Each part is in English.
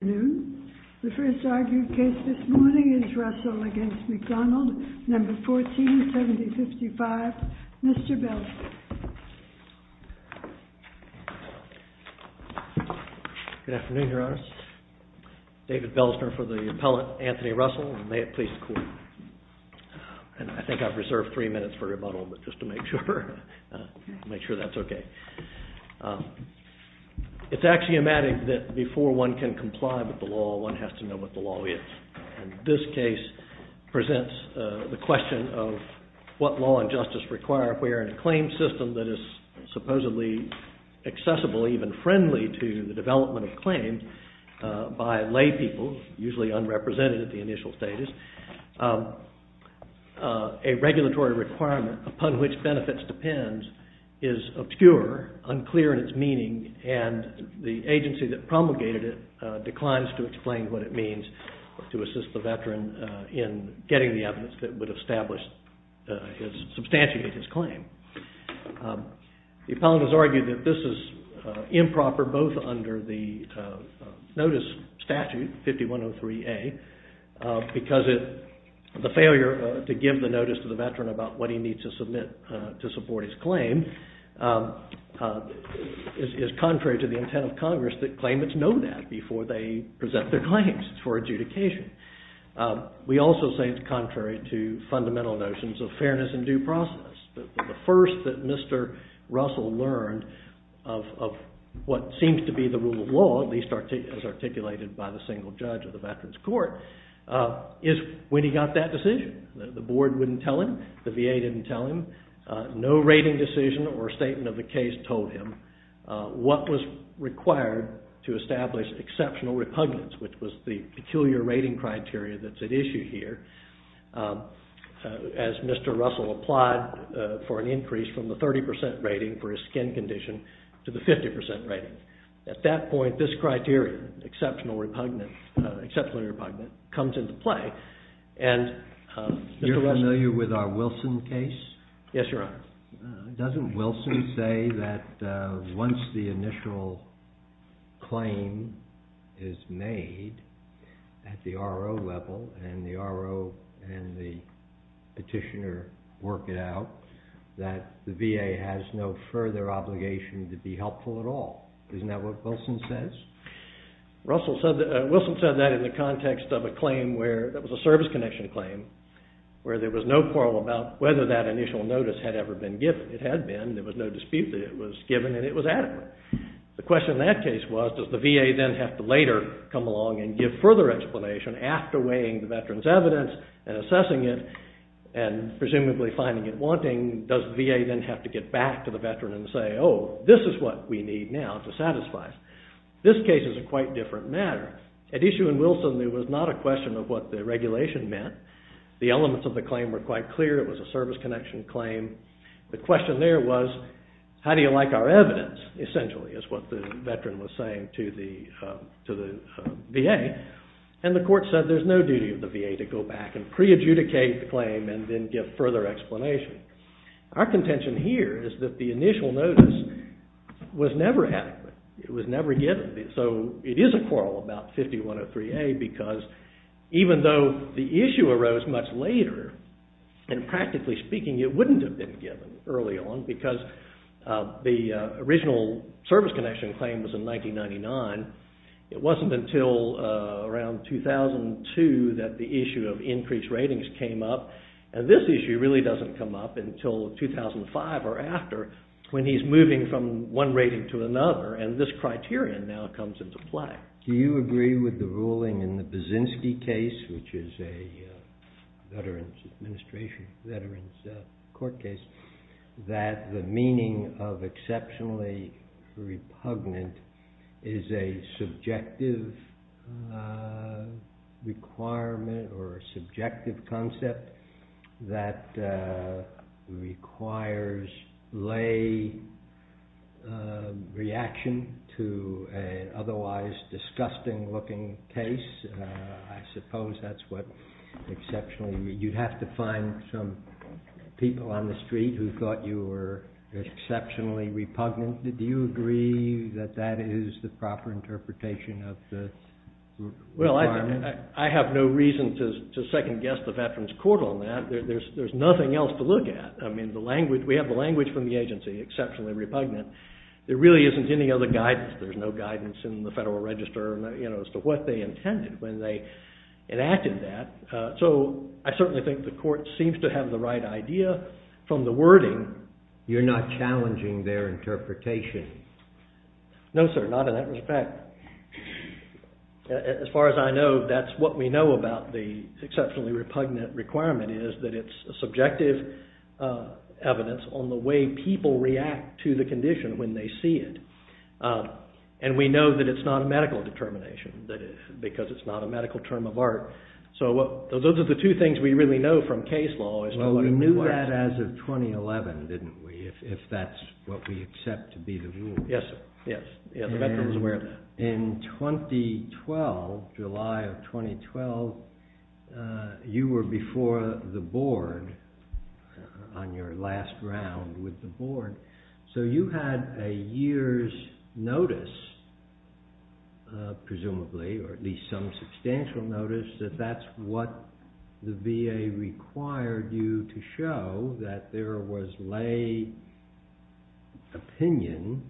noon. The first argued case this morning is Russell against McDonald, number 147055, Mr. Belzner. Good afternoon, Your Honor. David Belzner for the appellant, Anthony Russell, and may it please the Court. And I think I've reserved three minutes for rebuttal, but just to make sure, make sure that's okay. It's axiomatic that before one can comply with the law, one has to know what the law is. This case presents the question of what law and justice require if we are in a claim system that is supposedly accessible, even friendly to the development of a claim by laypeople, usually unrepresented at the initial stages. A regulatory requirement upon which benefits depend is obscure, unclear in its meaning, and the agency that promulgated it declines to explain what it means to assist the veteran in getting the evidence that would establish, substantiate his claim. The appellant has argued that this is improper, both under the notice statute 5103A, because the failure to give the notice to the veteran about what he needs to submit to support his claim is contrary to the intent of Congress that claimants know that before they present their claims for adjudication. We also say it's contrary to fundamental notions of fairness and due process. The first that Mr. Russell learned of what seems to be the rule of law, at least as articulated by the single judge of the Veterans Court, is when he got that decision. The board wouldn't tell him, the VA didn't tell him, no rating decision or statement of the case told him what was required to establish exceptional repugnance, which was the peculiar rating criteria that's at issue here. As Mr. Russell applied for an increase from the 30% rating for his skin condition to the 50% rating. At that point, this criteria, exceptional repugnance, comes into play. You're familiar with our Wilson case? Yes, Your Honor. Doesn't Wilson say that once the initial claim is made at the RO level and the RO and the petitioner work it out, that the VA has no further obligation to be helpful at all? Isn't that what Wilson says? Wilson said that in the context of a claim where, that was a service connection claim, where there was no quarrel about whether that initial notice had ever been given. It had been. There was no dispute that it was given and it was adequate. The question in that case was, does the VA then have to later come along and give further explanation after weighing the veteran's evidence and assessing it and presumably finding it wanting? Does the VA then have to get back to the veteran and say, oh, this is what we need now to satisfy us? This case is a quite different matter. At issue in Wilson, there was not a question of what the regulation meant. The elements of the claim were quite clear. It was a service connection claim. The question there was, how do you like our evidence, essentially, is what the veteran was saying to the VA. And the court said there's no duty of the VA to go back and pre-adjudicate the claim and then give further explanation. Our contention here is that the initial notice was never adequate. It was never given. So it is a quarrel about 5103A because even though the issue arose much later, and practically speaking it wouldn't have been given early on because the original service connection claim was in 1999. It wasn't until around 2002 that the issue of increased ratings came up. And this issue really doesn't come up until 2005 or after when he's moving from one rating to another. And this criterion now comes into play. Do you agree with the ruling in the Baczynski case, which is a Veterans Administration, Veterans Court case, that the meaning of exceptionally repugnant is a subjective requirement or a subjective concept that requires lay reaction to an otherwise disgusting looking case? I suppose that's what exceptionally, you'd have to find some people on the street who thought you were exceptionally repugnant. Do you agree that that is the proper interpretation of the requirement? Well, I have no reason to second guess the Veterans Court on that. There's nothing else to look at. I mean, we have the language from the agency, exceptionally repugnant. There really isn't any other guidance. There's no guidance in the Federal Register as to what they intended when they enacted that. So I certainly think the court seems to have the right idea from the wording. You're not challenging their interpretation? No, sir, not in that respect. As far as I know, that's what we know about the exceptionally repugnant requirement is that it's a subjective evidence on the way people react to the condition. When they see it, and we know that it's not a medical determination because it's not a medical term of art. So those are the two things we really know from case law. Well, we knew that as of 2011, didn't we, if that's what we accept to be the rule. Yes, sir. In 2012, July of 2012, you were before the board on your last round with the board. So you had a year's notice, presumably, or at least some substantial notice that that's what the VA required you to show that there was lay opinion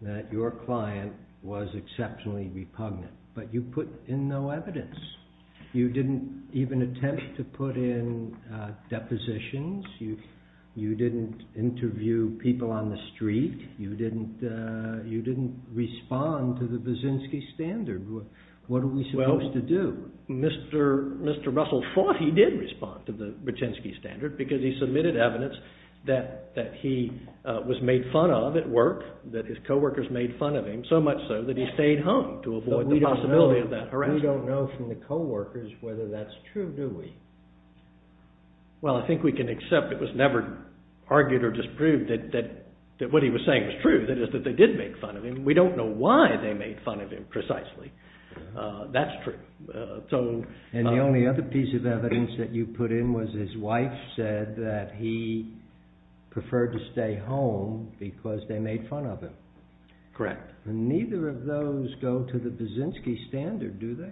that your client was exceptionally repugnant. But you put in no evidence. You didn't even attempt to put in depositions. You didn't interview people on the street. You didn't respond to the Brzezinski standard. What are we supposed to do? Well, Mr. Russell thought he did respond to the Brzezinski standard because he submitted evidence that he was made fun of at work, that his co-workers made fun of him, so much so that he stayed home to avoid the possibility of that harassment. We don't know from the co-workers whether that's true, do we? Well, I think we can accept it was never argued or disproved that what he was saying was true, that is, that they did make fun of him. We don't know why they made fun of him precisely. That's true. And the only other piece of evidence that you put in was his wife said that he preferred to stay home because they made fun of him. Correct. Neither of those go to the Brzezinski standard, do they?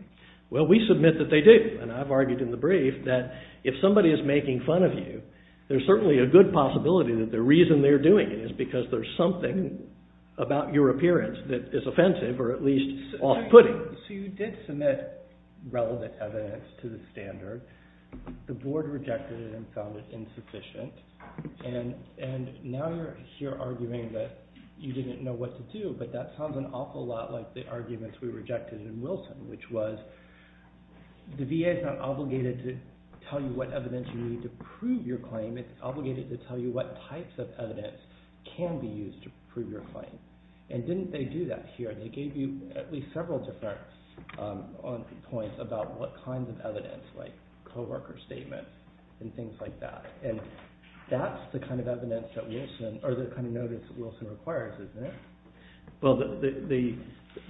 Well, we submit that they do. And I've argued in the brief that if somebody is making fun of you, there's certainly a good possibility that the reason they're doing it is because there's something about your appearance that is offensive or at least off-putting. So you did submit relevant evidence to the standard. The board rejected it and found it insufficient. And now you're here arguing that you didn't know what to do, but that sounds an awful lot like the arguments we rejected in Wilson, which was the VA is not obligated to tell you what evidence you need to prove your claim. It's obligated to tell you what types of evidence can be used to prove your claim. And didn't they do that here? They gave you at least several different points about what kinds of evidence, like co-worker statements and things like that. And that's the kind of evidence that Wilson – or the kind of notice that Wilson requires, isn't it? Well, the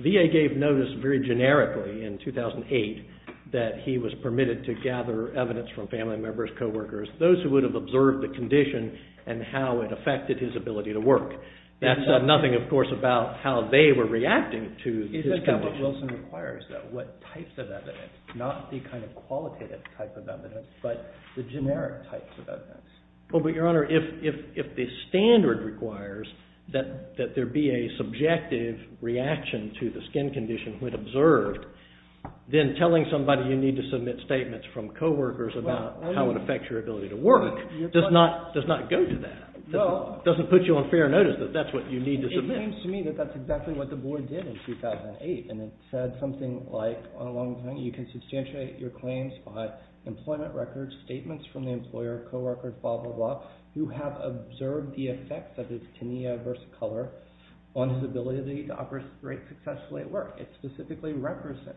VA gave notice very generically in 2008 that he was permitted to gather evidence from family members, co-workers, those who would have observed the condition and how it affected his ability to work. That said, nothing, of course, about how they were reacting to his condition. Except that what Wilson requires, though, what types of evidence, not the kind of qualitative type of evidence, but the generic types of evidence. Well, but, Your Honor, if the standard requires that there be a subjective reaction to the skin condition when observed, then telling somebody you need to submit statements from co-workers about how it affects your ability to work does not go to that. It doesn't put you on fair notice that that's what you need to submit. It seems to me that that's exactly what the Board did in 2008. And it said something like, on a long time, you can substantiate your claims by employment records, statements from the employer, co-worker, blah, blah, blah, who have observed the effects of this tinea versicolor on his ability to operate successfully at work. It specifically references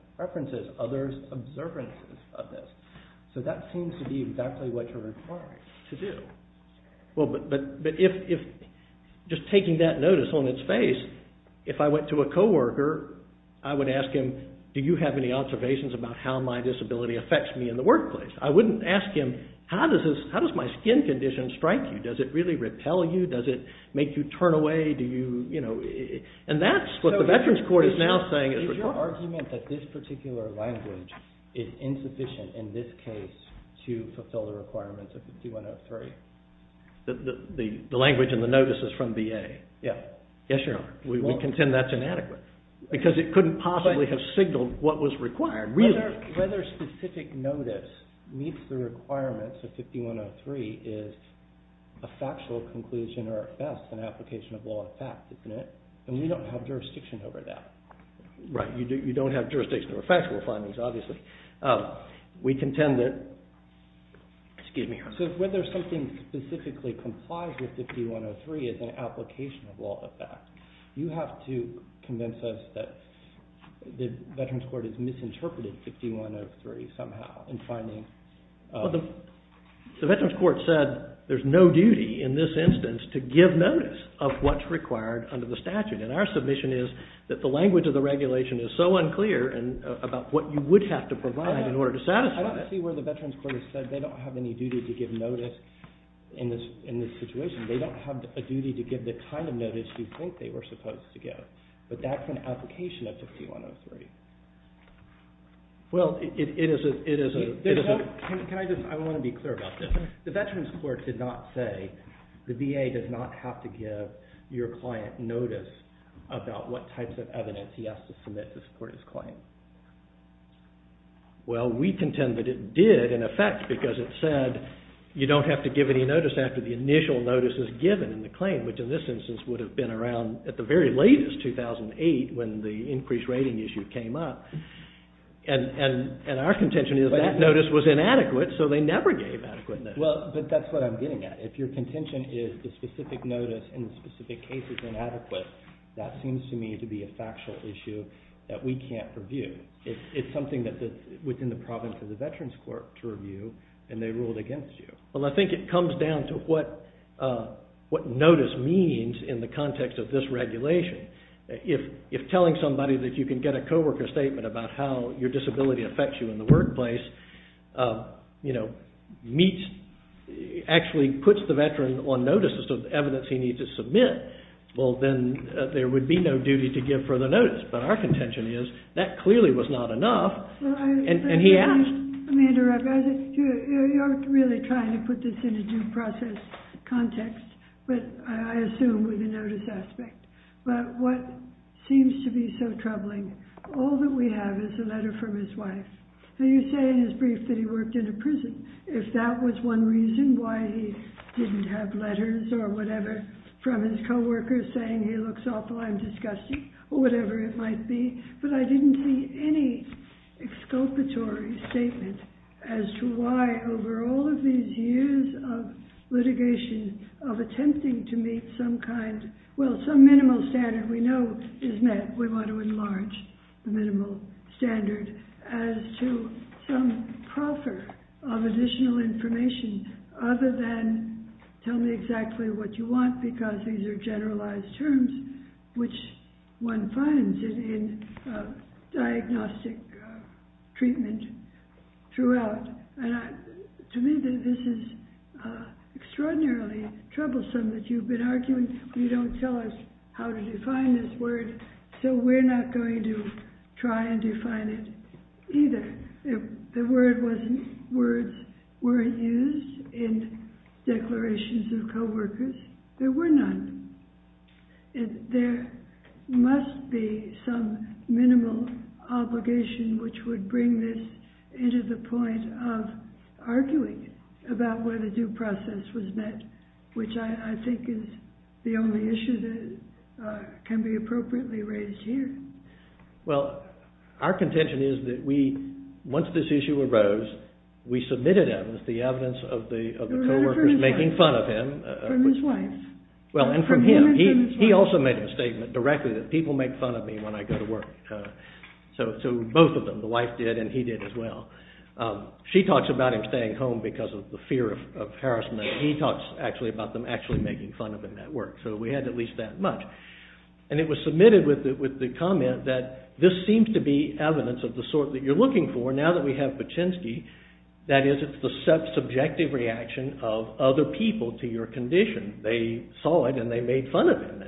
others' observances of this. So that seems to be exactly what you're required to do. Well, but if just taking that notice on its face, if I went to a co-worker, I would ask him, do you have any observations about how my disability affects me in the workplace? I wouldn't ask him, how does my skin condition strike you? Does it really repel you? Does it make you turn away? Do you, you know, and that's what the Veterans Court is now saying is required. There's an argument that this particular language is insufficient in this case to fulfill the requirements of 5103. The language in the notice is from VA? Yeah. Yes, Your Honor. We contend that's inadequate. Because it couldn't possibly have signaled what was required, really. Whether specific notice meets the requirements of 5103 is a factual conclusion or, at best, an application of law of fact, isn't it? And we don't have jurisdiction over that. Right. You don't have jurisdiction over factual findings, obviously. We contend that, excuse me, Your Honor. So whether something specifically complies with 5103 is an application of law of fact. You have to convince us that the Veterans Court has misinterpreted 5103 somehow in finding. Well, the Veterans Court said there's no duty in this instance to give notice of what's required under the statute. And our submission is that the language of the regulation is so unclear about what you would have to provide in order to satisfy it. I don't see where the Veterans Court has said they don't have any duty to give notice in this situation. They don't have a duty to give the kind of notice you think they were supposed to give. But that's an application of 5103. Well, it is a… Can I just… I want to be clear about this. The Veterans Court did not say the VA does not have to give your client notice about what types of evidence he has to submit to support his claim. Well, we contend that it did, in effect, because it said you don't have to give any notice after the initial notice is given in the claim, which in this instance would have been around at the very latest, 2008, when the increased rating issue came up. And our contention is that notice was inadequate, so they never gave adequate notice. Well, but that's what I'm getting at. If your contention is the specific notice in the specific case is inadequate, that seems to me to be a factual issue that we can't review. It's something that's within the province of the Veterans Court to review, and they ruled against you. Well, I think it comes down to what notice means in the context of this regulation. If telling somebody that you can get a coworker statement about how your disability affects you in the workplace, you know, actually puts the veteran on notice as to the evidence he needs to submit, well, then there would be no duty to give further notice. But our contention is that clearly was not enough, and he asked… Let me interrupt. You're really trying to put this in a due process context, but I assume with the notice aspect. But what seems to be so troubling, all that we have is a letter from his wife. So you say in his brief that he worked in a prison. If that was one reason why he didn't have letters or whatever from his coworkers saying he looks awful, I'm disgusted, or whatever it might be. But I didn't see any exculpatory statement as to why, over all of these years of litigation, of attempting to meet some kind… Well, some minimal standard we know is met. We want to enlarge the minimal standard as to some proffer of additional information other than, tell me exactly what you want, because these are generalized terms, which one finds in diagnostic treatment throughout. And to me, this is extraordinarily troublesome that you've been arguing. You don't tell us how to define this word, so we're not going to try and define it either. If the words weren't used in declarations of coworkers, there were none. There must be some minimal obligation which would bring this into the point of arguing about whether due process was met, which I think is the only issue that can be appropriately raised here. Well, our contention is that once this issue arose, we submitted him as the evidence of the coworkers making fun of him. From his wife. Well, and from him. He also made a statement directly that people make fun of me when I go to work. So both of them, the wife did and he did as well. She talks about him staying home because of the fear of harassment. He talks actually about them actually making fun of him at work. So we had at least that much. And it was submitted with the comment that this seems to be evidence of the sort that you're looking for now that we have Paczynski. That is, it's the subjective reaction of other people to your condition. They saw it and they made fun of him.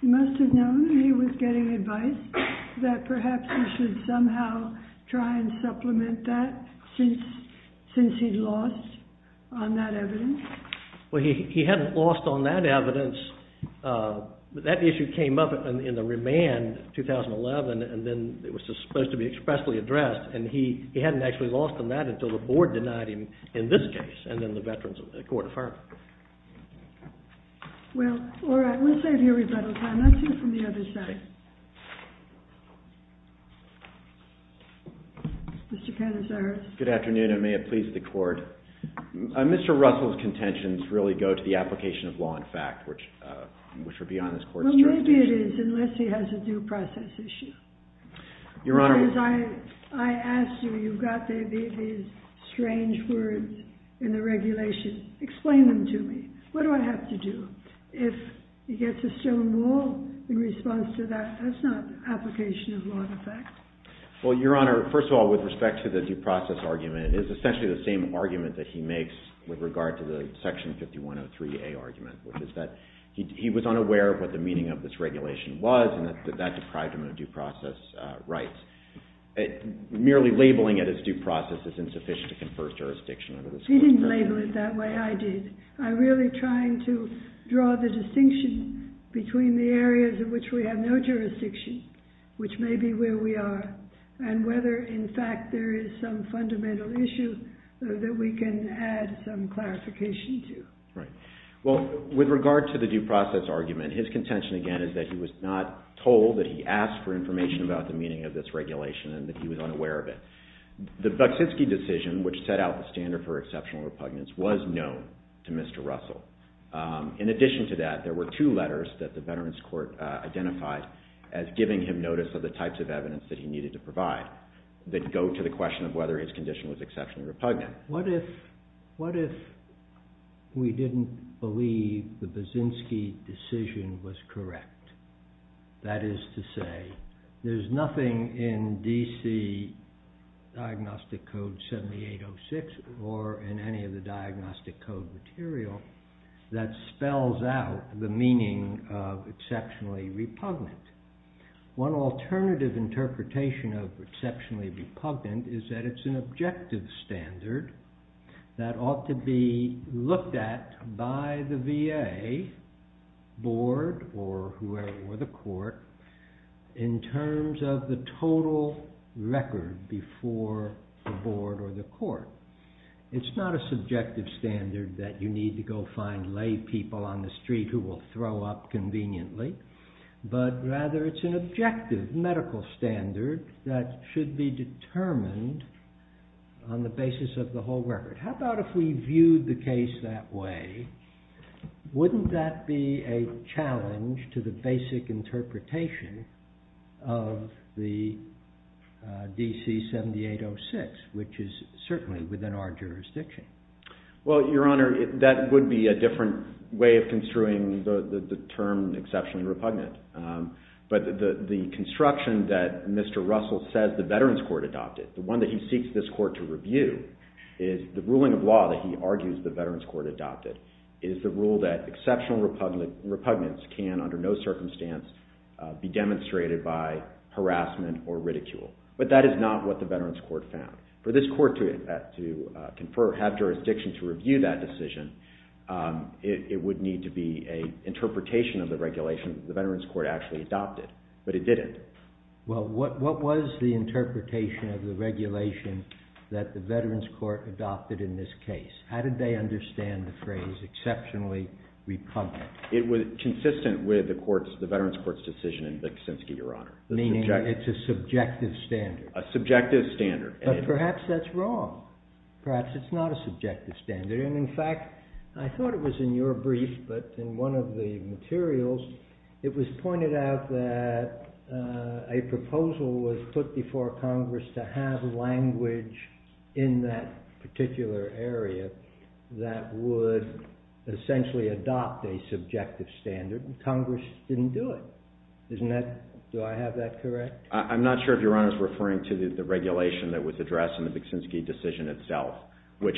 He must have known he was getting advice that perhaps he should somehow try and supplement that since he'd lost on that evidence. Well, he hadn't lost on that evidence. That issue came up in the remand in 2011 and then it was supposed to be expressly addressed. And he hadn't actually lost on that until the board denied him in this case and then the veterans court affirmed. Well, all right. We'll save here for the time. Let's hear from the other side. Mr. Canizares. Good afternoon and may it please the court. Mr. Russell's contentions really go to the application of law in fact, which would be on this court's jurisdiction. Well, maybe it is unless he has a due process issue. Your Honor. Because I asked you, you've got these strange words in the regulation. Explain them to me. What do I have to do? If he gets a stone wall in response to that, that's not application of law in fact. Well, Your Honor, first of all, with respect to the due process argument, it is essentially the same argument that he makes with regard to the section 5103A argument, which is that he was unaware of what the meaning of this regulation was and that that deprived him of due process rights. Merely labeling it as due process is insufficient to confer jurisdiction over this court's judgment. He didn't label it that way. I did. I'm really trying to draw the distinction between the areas in which we have no jurisdiction, which may be where we are, and whether in fact there is some fundamental issue that we can add some clarification to. Right. Well, with regard to the due process argument, his contention again is that he was not told that he asked for information about the meaning of this regulation and that he was unaware of it. The Baczynski decision, which set out the standard for exceptional repugnance, was known to Mr. Russell. In addition to that, there were two letters that the Veterans Court identified as giving him notice of the types of evidence that he needed to provide that go to the question of whether his condition was exceptionally repugnant. What if we didn't believe the Baczynski decision was correct? That is to say, there's nothing in DC Diagnostic Code 7806, or in any of the diagnostic code material, that spells out the meaning of exceptionally repugnant. One alternative interpretation of exceptionally repugnant is that it's an objective standard that ought to be looked at by the VA, board, or whoever, or the court, in terms of the total record before the board or the court. It's not a subjective standard that you need to go find lay people on the street who will throw up conveniently, but rather it's an objective medical standard that should be determined on the basis of the whole record. How about if we viewed the case that way? Wouldn't that be a challenge to the basic interpretation of the DC 7806, which is certainly within our jurisdiction? Well, Your Honor, that would be a different way of construing the term exceptionally repugnant. But the construction that Mr. Russell says the Veterans Court adopted, the one that he seeks this court to review, is the ruling of law that he argues the Veterans Court adopted, is the rule that exceptional repugnance can, under no circumstance, be demonstrated by harassment or ridicule. But that is not what the Veterans Court found. For this court to confer, have jurisdiction to review that decision, it would need to be an interpretation of the regulation that the Veterans Court actually adopted. But it didn't. Well, what was the interpretation of the regulation that the Veterans Court adopted in this case? How did they understand the phrase exceptionally repugnant? It was consistent with the Veterans Court's decision in Viksinski, Your Honor. Meaning it's a subjective standard? A subjective standard. But perhaps that's wrong. Perhaps it's not a subjective standard. And, in fact, I thought it was in your brief, but in one of the materials, it was pointed out that a proposal was put before Congress to have language in that particular area that would essentially adopt a subjective standard, and Congress didn't do it. Isn't that, do I have that correct? I'm not sure if Your Honor is referring to the regulation that was addressed in the Viksinski decision itself. Which,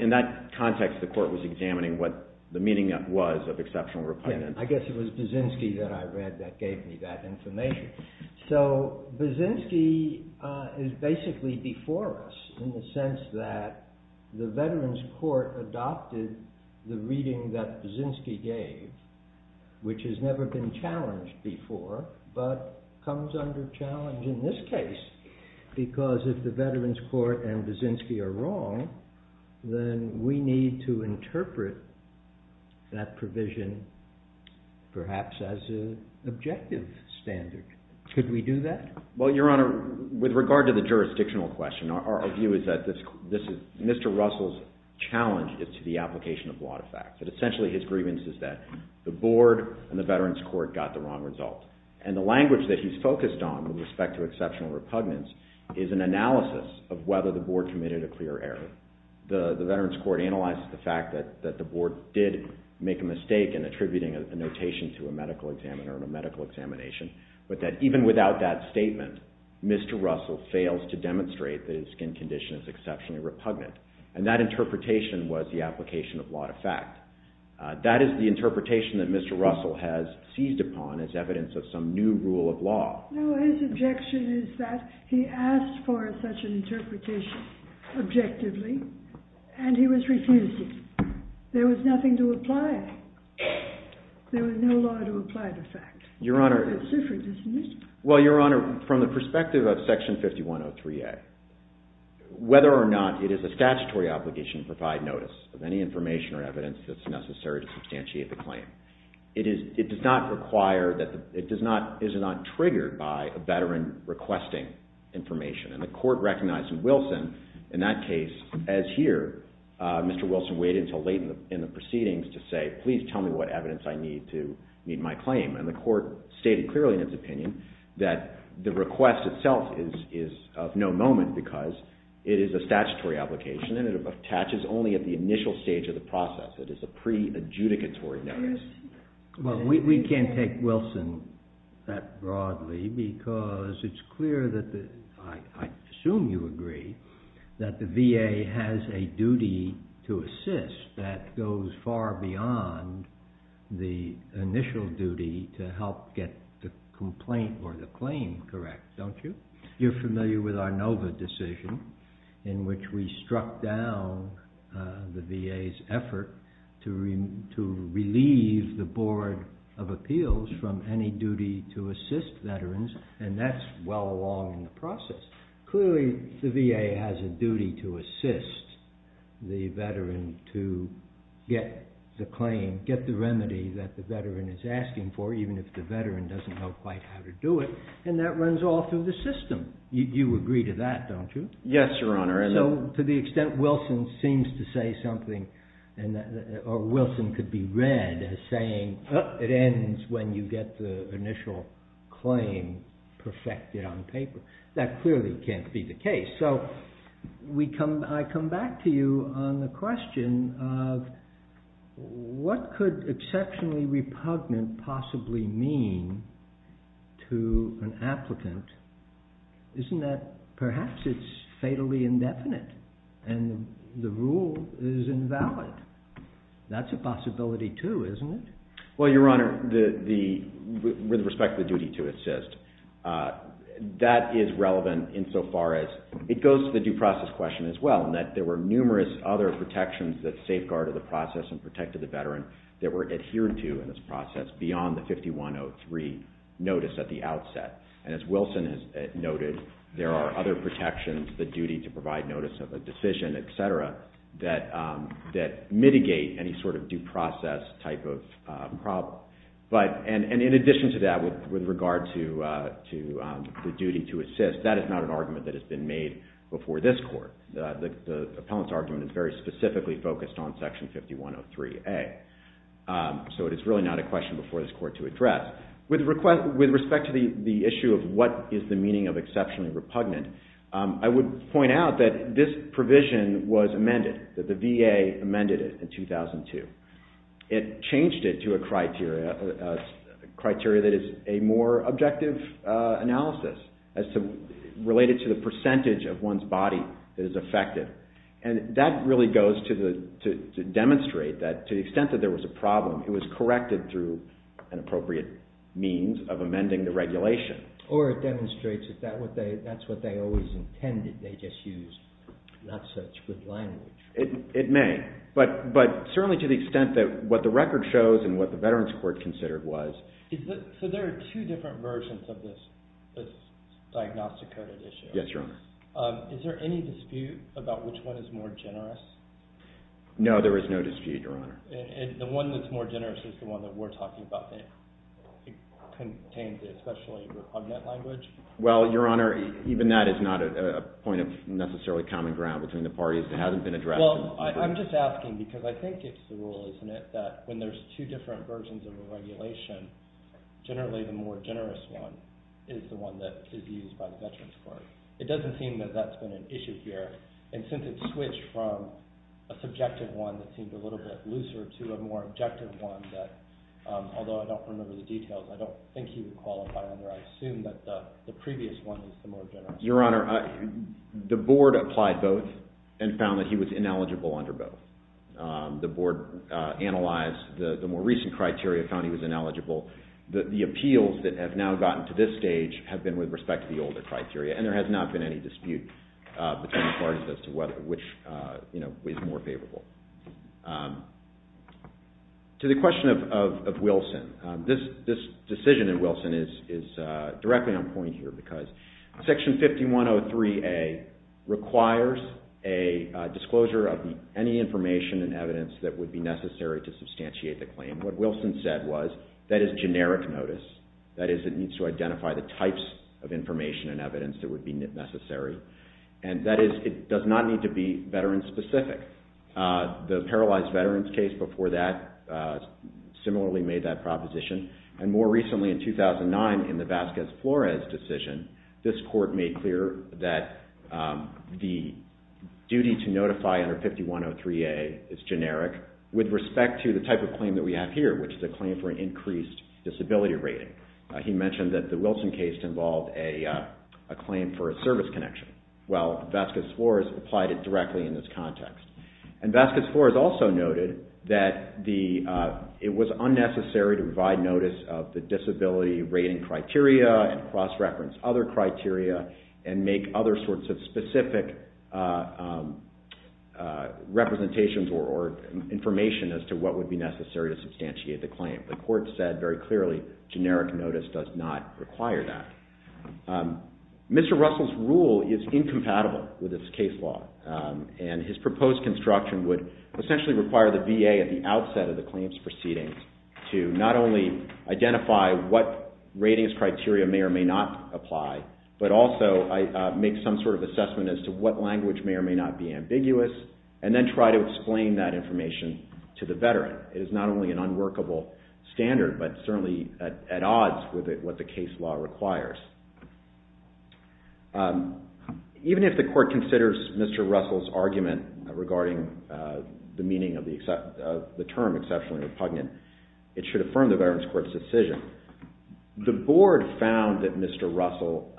in that context, the court was examining what the meaning was of exceptional repugnance. I guess it was Viksinski that I read that gave me that information. So Viksinski is basically before us in the sense that the Veterans Court adopted the reading that Viksinski gave, which has never been challenged before, but comes under challenge in this case. Because if the Veterans Court and Viksinski are wrong, then we need to interpret that provision perhaps as an objective standard. Could we do that? Well, Your Honor, with regard to the jurisdictional question, our view is that this is Mr. Russell's challenge to the application of a lot of facts. That essentially his grievance is that the board and the Veterans Court got the wrong result. And the language that he's focused on with respect to exceptional repugnance is an analysis of whether the board committed a clear error. The Veterans Court analyzed the fact that the board did make a mistake in attributing a notation to a medical examiner in a medical examination, but that even without that statement, Mr. Russell fails to demonstrate that his skin condition is exceptionally repugnant. And that interpretation was the application of a lot of fact. That is the interpretation that Mr. Russell has seized upon as evidence of some new rule of law. No, his objection is that he asked for such an interpretation objectively, and he was refused it. There was nothing to apply. There was no law to apply the fact. It's different, isn't it? Well, Your Honor, from the perspective of Section 5103A, whether or not it is a statutory obligation to provide notice of any information or evidence that's necessary to substantiate the claim, it does not require that it is not triggered by a veteran requesting information. And the court recognized in Wilson, in that case, as here, Mr. Wilson waited until late in the proceedings to say, please tell me what evidence I need to meet my claim. And the court stated clearly in its opinion that the request itself is of no moment because it is a statutory application and it attaches only at the initial stage of the process. It is a pre-adjudicatory notice. Well, we can't take Wilson that broadly because it's clear that the, I assume you agree, that the VA has a duty to assist that goes far beyond the initial duty to help get the complaint or the claim correct, don't you? You're familiar with our Nova decision in which we struck down the VA's effort to relieve the Board of Appeals from any duty to assist veterans, and that's well along in the process. Clearly, the VA has a duty to assist the veteran to get the claim, get the remedy that the veteran is asking for, even if the veteran doesn't know quite how to do it, and that runs all through the system. You agree to that, don't you? Yes, Your Honor. So to the extent Wilson seems to say something, or Wilson could be read as saying it ends when you get the initial claim perfected on paper, that clearly can't be the case. So I come back to you on the question of what could exceptionally repugnant possibly mean to an applicant. Isn't that perhaps it's fatally indefinite and the rule is invalid? That's a possibility too, isn't it? Well, Your Honor, with respect to the duty to assist, that is relevant insofar as it goes to the due process question as well, in that there were numerous other protections that safeguarded the process and protected the veteran that were adhered to in this process beyond the 5103 notice at the outset. And as Wilson has noted, there are other protections, the duty to provide notice of a decision, et cetera, that mitigate any sort of due process type of problem. And in addition to that, with regard to the duty to assist, that is not an argument that has been made before this Court. The appellant's argument is very specifically focused on Section 5103A. So it is really not a question before this Court to address. With respect to the issue of what is the meaning of exceptionally repugnant, I would point out that this provision was amended, that the VA amended it in 2002. It changed it to a criteria that is a more objective analysis related to the percentage of one's body that is affected. And that really goes to demonstrate that to the extent that there was a problem, it was corrected through an appropriate means of amending the regulation. Or it demonstrates that that's what they always intended. They just used not such good language. It may, but certainly to the extent that what the record shows and what the Veterans Court considered was... So there are two different versions of this diagnostic coded issue. Yes, Your Honor. Is there any dispute about which one is more generous? No, there is no dispute, Your Honor. And the one that's more generous is the one that we're talking about, that contains the especially repugnant language? Well, Your Honor, even that is not a point of necessarily common ground between the parties that hasn't been addressed. Well, I'm just asking because I think it's the rule, isn't it, that when there's two different versions of a regulation, generally the more generous one is the one that is used by the Veterans Court. It doesn't seem that that's been an issue here. And since it switched from a subjective one that seemed a little bit looser to a more objective one that, although I don't remember the details, I don't think he would qualify under, I assume that the previous one is the more generous one. Your Honor, the board applied both and found that he was ineligible under both. The board analyzed the more recent criteria, found he was ineligible. The appeals that have now gotten to this stage have been with respect to the older criteria, and there has not been any dispute between the parties as to which is more favorable. To the question of Wilson, this decision in Wilson is directly on point here because Section 5103A requires a disclosure of any information and evidence that would be necessary to substantiate the claim. What Wilson said was that is generic notice. That is, it needs to identify the types of information and evidence that would be necessary. And that is, it does not need to be veteran-specific. The paralyzed veterans case before that similarly made that proposition. And more recently, in 2009, in the Vasquez-Flores decision, this court made clear that the duty to notify under 5103A is generic with respect to the type of claim that we have here, which is a claim for an increased disability rating. He mentioned that the Wilson case involved a claim for a service connection. Well, Vasquez-Flores applied it directly in this context. And Vasquez-Flores also noted that it was unnecessary to provide notice of the disability rating criteria and cross-reference other criteria and make other sorts of specific representations or information as to what would be necessary to substantiate the claim. The court said very clearly generic notice does not require that. Mr. Russell's rule is incompatible with this case law, and his proposed construction would essentially require the VA at the outset of the claims proceedings to not only identify what ratings criteria may or may not apply, but also make some sort of assessment as to what language may or may not be ambiguous and then try to explain that information to the veteran. It is not only an unworkable standard, but certainly at odds with what the case law requires. Even if the court considers Mr. Russell's argument regarding the meaning of the term exceptionally repugnant, it should affirm the Veterans Court's decision. The board found that Mr. Russell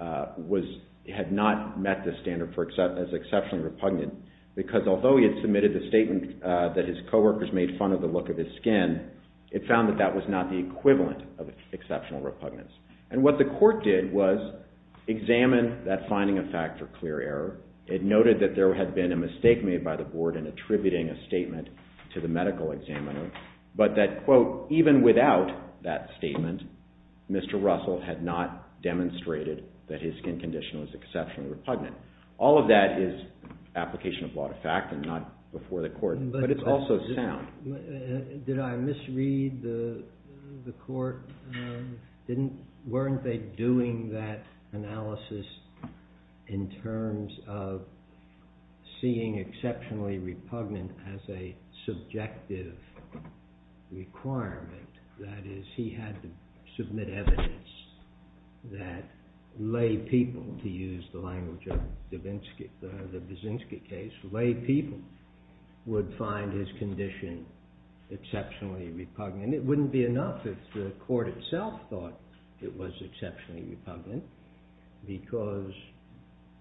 had not met the standard as exceptionally repugnant because although he had submitted the statement that his co-workers made fun of the look of his skin, it found that that was not the equivalent of exceptional repugnance. And what the court did was examine that finding of fact or clear error. It noted that there had been a mistake made by the board in attributing a statement to the medical examiner, but that, quote, even without that statement, Mr. Russell had not demonstrated that his skin condition was exceptionally repugnant. All of that is application of law to fact and not before the court, but it's also sound. Did I misread the court? Weren't they doing that analysis in terms of seeing exceptionally repugnant as a subjective requirement? That is, he had to submit evidence that lay people, to use the language of the Baczynski case, lay people would find his condition exceptionally repugnant. It wouldn't be enough if the court itself thought it was exceptionally repugnant because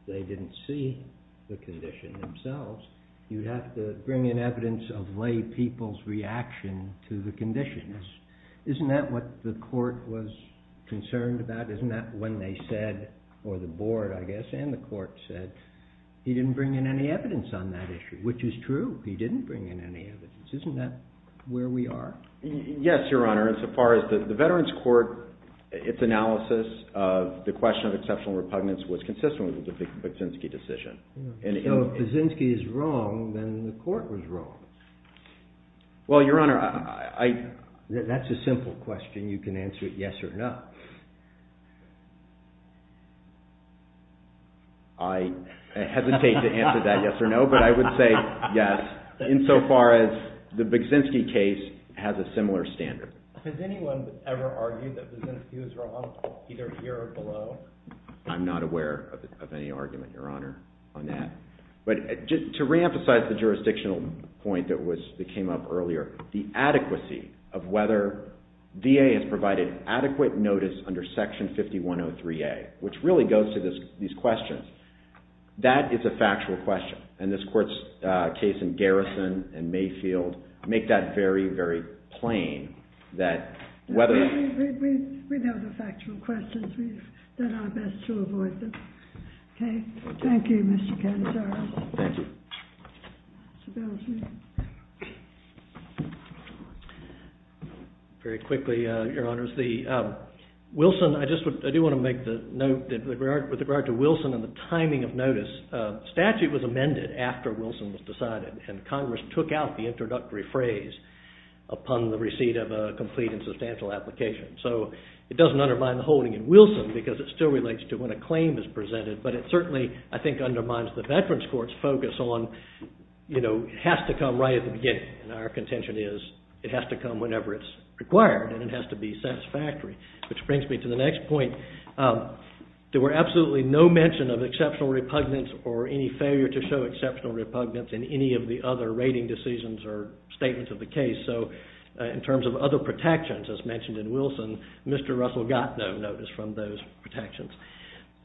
they didn't see the condition themselves. You'd have to bring in evidence of lay people's reaction to the conditions. Isn't that what the court was concerned about? Isn't that when they said, or the board, I guess, and the court said, he didn't bring in any evidence on that issue, which is true. He didn't bring in any evidence. Isn't that where we are? Yes, Your Honor, and so far as the Veterans Court, its analysis of the question of exceptional repugnance was consistent with the Baczynski decision. So if Baczynski is wrong, then the court was wrong. Well, Your Honor, I... That's a simple question. You can answer it yes or no. I hesitate to answer that yes or no, but I would say yes, insofar as the Baczynski case has a similar standard. Has anyone ever argued that Baczynski was wrong, either here or below? I'm not aware of any argument, Your Honor, on that. But just to reemphasize the jurisdictional point that came up earlier, the adequacy of whether VA has provided adequate notice under Section 5103A, which really goes to these questions. That is a factual question, and this court's case in Garrison and Mayfield make that very, very plain that whether... We know the factual questions. We've done our best to avoid them. Okay? Thank you, Mr. Cannizzaro. Thank you. Very quickly, Your Honors. The Wilson... I do want to make the note that with regard to Wilson and the timing of notice, statute was amended after Wilson was decided, and Congress took out the introductory phrase upon the receipt of a complete and substantial application. So it doesn't undermine the holding in Wilson because it still relates to when a claim is presented, but it certainly, I think, undermines the Veterans Court's focus on it has to come right at the beginning, and our contention is it has to come whenever it's required and it has to be satisfactory, which brings me to the next point. There were absolutely no mention of exceptional repugnance or any failure to show exceptional repugnance in any of the other rating decisions or statements of the case. So in terms of other protections, as mentioned in Wilson, Mr. Russell got no notice from those protections.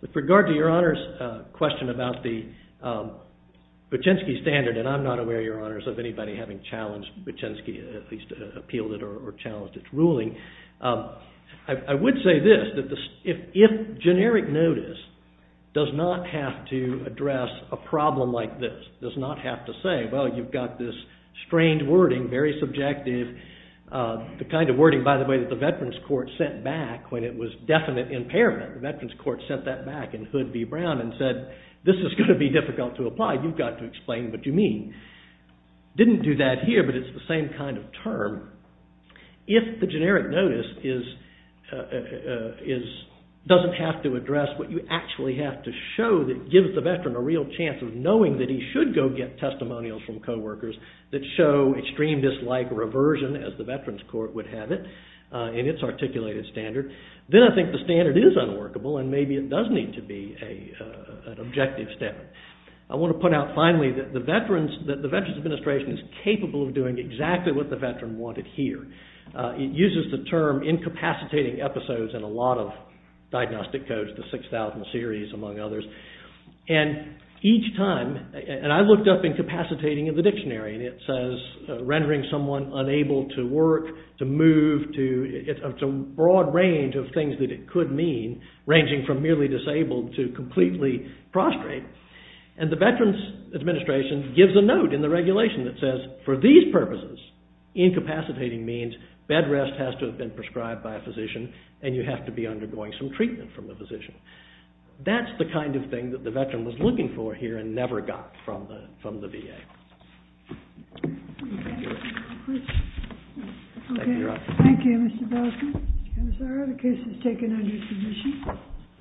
With regard to Your Honors' question about the Buczynski standard, and I'm not aware, Your Honors, of anybody having challenged Buczynski, at least appealed it or challenged its ruling, I would say this, that if generic notice does not have to address a problem like this, does not have to say, well, you've got this strange wording, very subjective, the kind of wording, by the way, that the Veterans Court sent back when it was definite impairment. The Veterans Court sent that back in Hood v. Brown and said, this is going to be difficult to apply. You've got to explain what you mean. Didn't do that here, but it's the same kind of term. If the generic notice doesn't have to address what you actually have to show that gives the veteran a real chance of knowing that he should go get testimonials from coworkers that show extreme dislike reversion, as the Veterans Court would have it, in its articulated standard, then I think the standard is unworkable and maybe it does need to be an objective standard. I want to put out finally that the Veterans Administration is capable of doing exactly what the veteran wanted here. It uses the term incapacitating episodes in a lot of diagnostic codes, the 6,000 series, among others. And each time, and I looked up incapacitating in the dictionary, and it says rendering someone unable to work, to move, to a broad range of things that it could mean, ranging from merely disabled to completely prostrate. And the Veterans Administration gives a note in the regulation that says, for these purposes, incapacitating means bed rest has to have been prescribed by a physician and you have to be undergoing some treatment from a physician. That's the kind of thing that the veteran was looking for here and never got from the VA. Thank you, Mr. Belkin. And it's all right. The case is taken under submission.